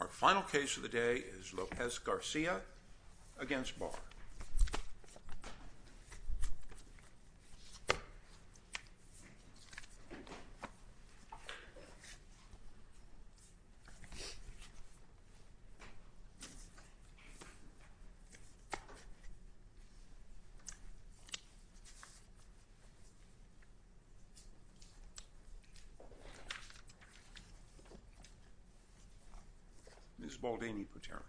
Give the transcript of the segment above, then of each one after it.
Our final case of the day is Lopez Garcia v. Barr. Ms. Baldini-Potterman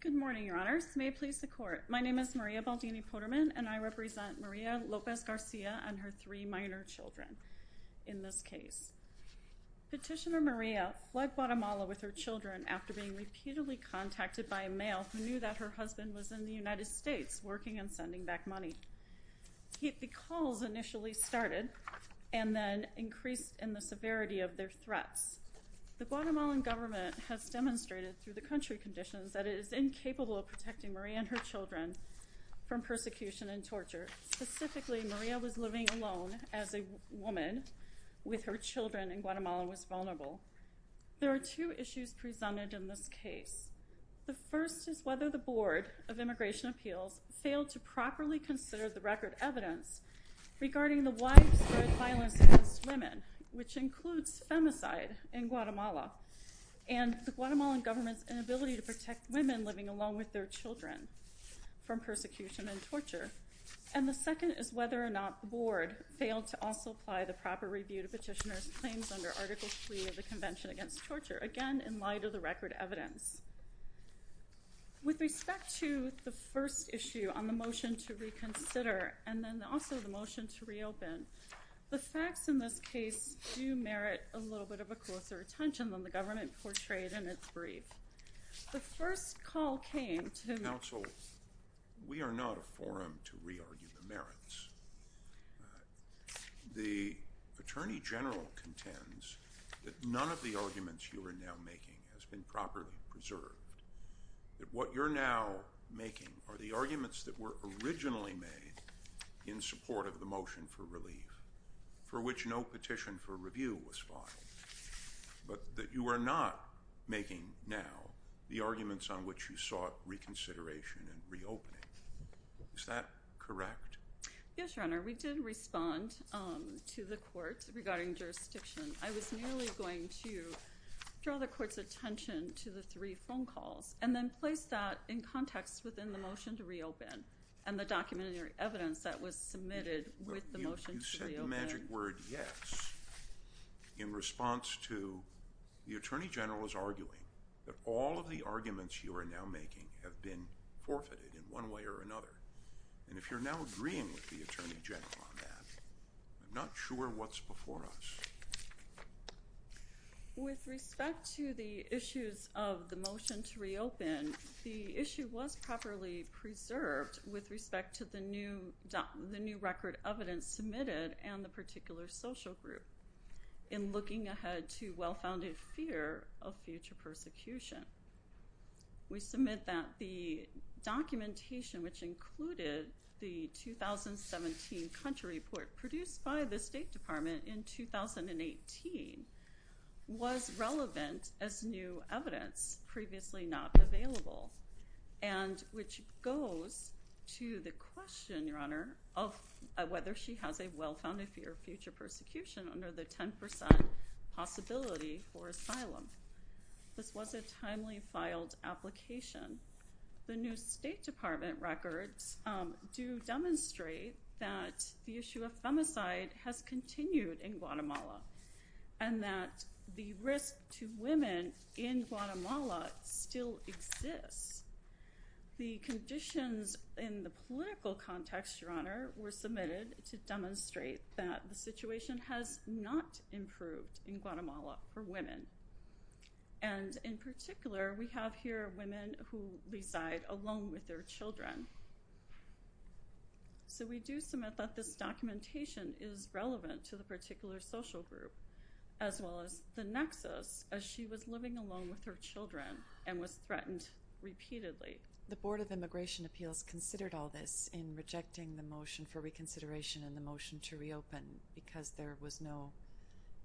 Good morning, Your Honors. May it please the Court. My name is Maria Baldini-Potterman and I represent Maria Lopez Garcia and her three minor children in this case. Petitioner Maria left Guatemala with her children after being repeatedly contacted by a male who knew that her husband was in the United States working on sending back money. The calls initially started and then increased in the severity of their threats. The Guatemalan government has demonstrated through the country conditions that it is incapable of protecting Maria and her children from persecution and torture. Specifically, Maria was living alone as a woman with her children and Guatemala was vulnerable. There are two issues presented in this case. The first is whether the Board of Immigration Appeals failed to properly consider the record evidence regarding the widespread violence against women, which includes femicide in Guatemala, and the Guatemalan government's inability to protect women living alone with their children from persecution and torture. And the second is whether or not the Board failed to also apply the proper review to Petitioner's claims under Article 3 of the Convention Against Torture, again in light of the record evidence. With respect to the first issue on the motion to reconsider and then also the motion to reopen, the facts in this case do merit a little bit of a closer attention than the government portrayed in its brief. The first call came to- Counsel, we are not a forum to re-argue the merits. The Attorney General contends that none of the arguments you are now making has been properly preserved, that what you're now making are the arguments that were originally made in support of the motion for relief, for which no petition for review was filed, but that you are not making now the arguments on which you sought reconsideration and reopening. Is that correct? Yes, Your Honor. We did respond to the court regarding jurisdiction. I was merely going to draw the court's attention to the three phone calls and then place that in context within the motion to reopen and the documentary evidence that was submitted with the motion to reopen. You said the magic word, yes, in response to- The Attorney General is arguing that all of the arguments you are now making have been forfeited in one way or another. And if you're now agreeing with the Attorney General on that, I'm not sure what's before us. With respect to the issues of the motion to reopen, the issue was properly preserved with respect to the new record evidence submitted and the particular social group in looking ahead to well-founded fear of future persecution. We submit that the documentation, which included the 2017 country report produced by the State Department in 2018, was relevant as new evidence, previously not available, and which goes to the question, Your Honor, of whether she has a well-founded fear of future persecution under the 10% possibility for asylum. This was a timely filed application. The new State Department records do demonstrate that the issue of femicide has continued in Guatemala and that the risk to women in Guatemala still exists. The conditions in the political context, Your Honor, were submitted to demonstrate that the situation has not improved in Guatemala for women. And in particular, we have here women who reside alone with their children. So we do submit that this documentation is relevant to the particular social group, as well as the nexus as she was living alone with her children and was threatened repeatedly. The Board of Immigration Appeals considered all this in rejecting the motion for reconsideration and the motion to reopen because there was no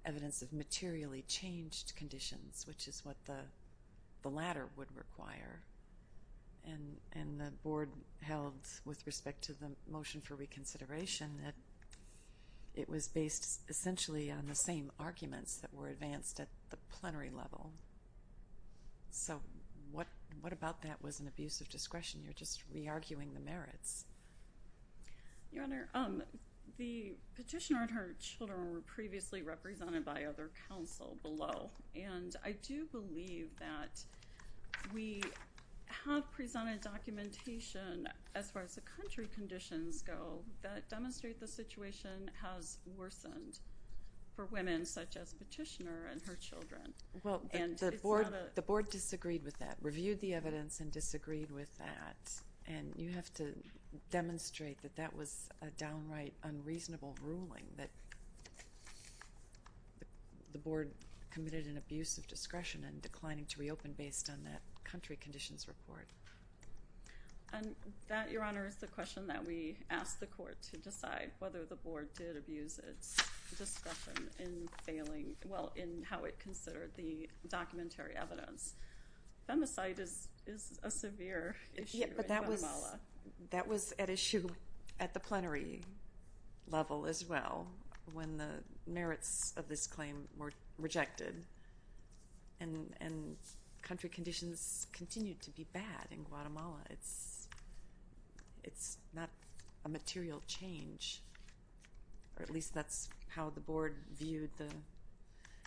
evidence of materially changed conditions, which is what the latter would require. And the Board held, with respect to the motion for reconsideration, that it was based essentially on the same arguments that were advanced at the plenary level. So what about that was an abuse of discretion? You're just re-arguing the merits. Your Honor, the petitioner and her children were previously represented by other counsel below. And I do believe that we have presented documentation as far as the country conditions go that demonstrate the situation has worsened for women such as petitioner and her children. Well, the Board disagreed with that, reviewed the evidence and disagreed with that. And you have to demonstrate that that was a downright unreasonable ruling, that the Board committed an abuse of discretion and declining to reopen based on that country conditions report. And that, Your Honor, is the question that we asked the Court to decide, whether the Board did abuse its discretion in failing, well, in how it considered the documentary evidence. Femicide is a severe issue. And that was at issue at the plenary level as well when the merits of this claim were rejected. And country conditions continue to be bad in Guatemala. It's not a material change, or at least that's how the Board viewed the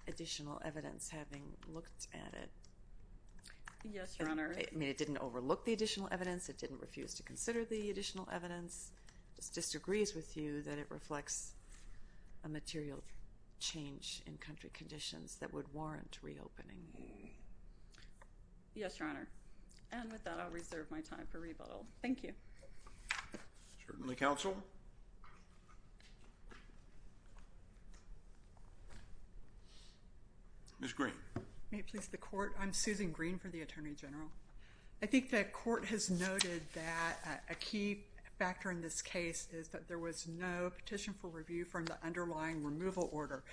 additional evidence having looked at it. Yes, Your Honor. I mean, it didn't overlook the additional evidence. It didn't refuse to consider the additional evidence. This disagrees with you that it reflects a material change in country conditions that would warrant reopening. Yes, Your Honor. And with that, I'll reserve my time for rebuttal. Thank you. Certainly, counsel. Ms. Green. May it please the Court? I'm Susan Green for the Attorney General. I think the Court has noted that a key factor in this case is that there was no petition for review from the underlying removal order.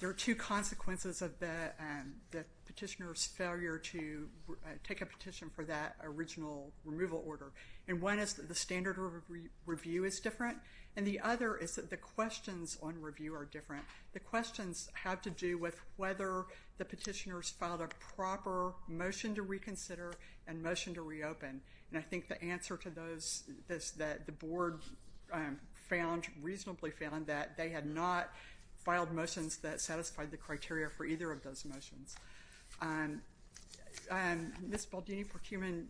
There are two consequences of the petitioner's failure to take a petition for that original removal order. And one is that the standard of review is different. And the other is that the questions on review are different. The questions have to do with whether the petitioners filed a proper motion to reconsider and motion to reopen. And I think the answer to those is that the Board found, reasonably found, that they had not filed motions that satisfied the criteria for either of those motions. Ms. Baldini-Porcumin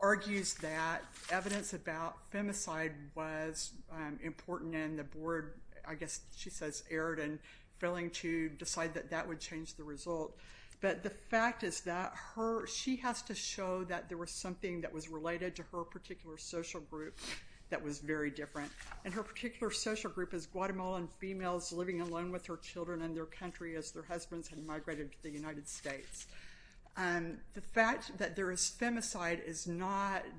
argues that evidence about femicide was important and the Board, I guess she says, erred in failing to decide that that would change the result. But the fact is that she has to show that there was something that was related to her particular social group that was very different. And her particular social group is Guatemalan females living alone with their children in their country as their husbands had migrated to the United States. The fact that there is femicide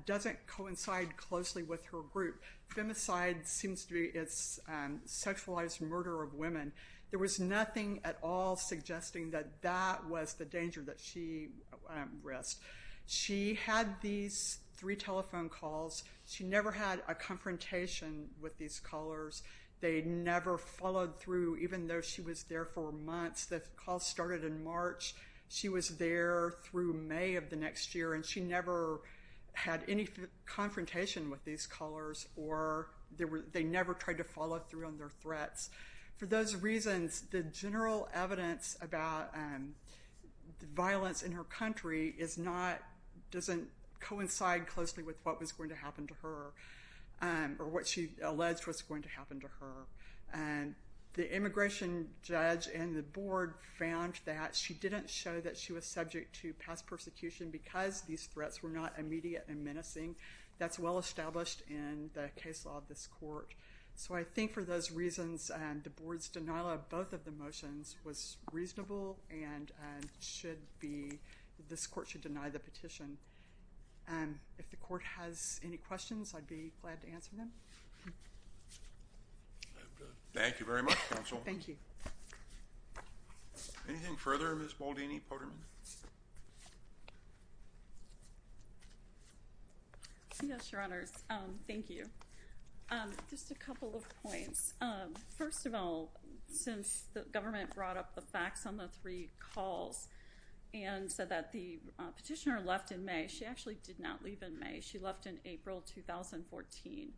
doesn't coincide closely with her group. Femicide seems to be a sexualized murder of women. There was nothing at all suggesting that that was the danger that she risked. She had these three telephone calls. She never had a confrontation with these callers. They never followed through even though she was there for months. The call started in March. She was there through May of the next year and she never had any confrontation with these callers or they never tried to follow through on their threats. For those reasons, the general evidence about the violence in her country doesn't coincide closely with what was going to happen to her or what she alleged was going to happen to her. The immigration judge and the Board found that she didn't show that she was subject to past persecution because these threats were not immediate and menacing. That's well established in the case law of this court. I think for those reasons, the Board's denial of both of the motions was reasonable and this court should deny the petition. If the court has any questions, I'd be glad to answer them. Thank you very much, Counsel. Thank you. Anything further, Ms. Moldini-Potterman? Yes, Your Honors. Thank you. Just a couple of points. First of all, since the government brought up the facts on the three calls and said that the petitioner left in May, she actually did not leave in May. She left in April 2014,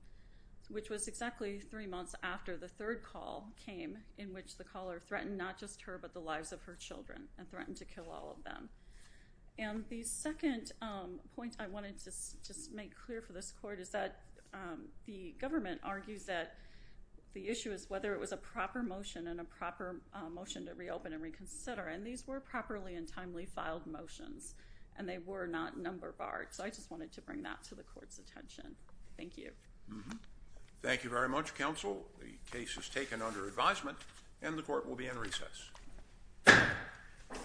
which was exactly three months after the third call came in which the caller threatened not just her but the lives of her children and threatened to kill all of them. The second point I wanted to make clear for this court is that the government argues that the issue is whether it was a proper motion and a proper motion to reopen and reconsider. These were properly and timely filed motions and they were not number barred. I just wanted to bring that to the court's attention. Thank you. Thank you very much, Counsel. The case is taken under advisement and the court will be in recess. Thank you. Thank you. Thank you.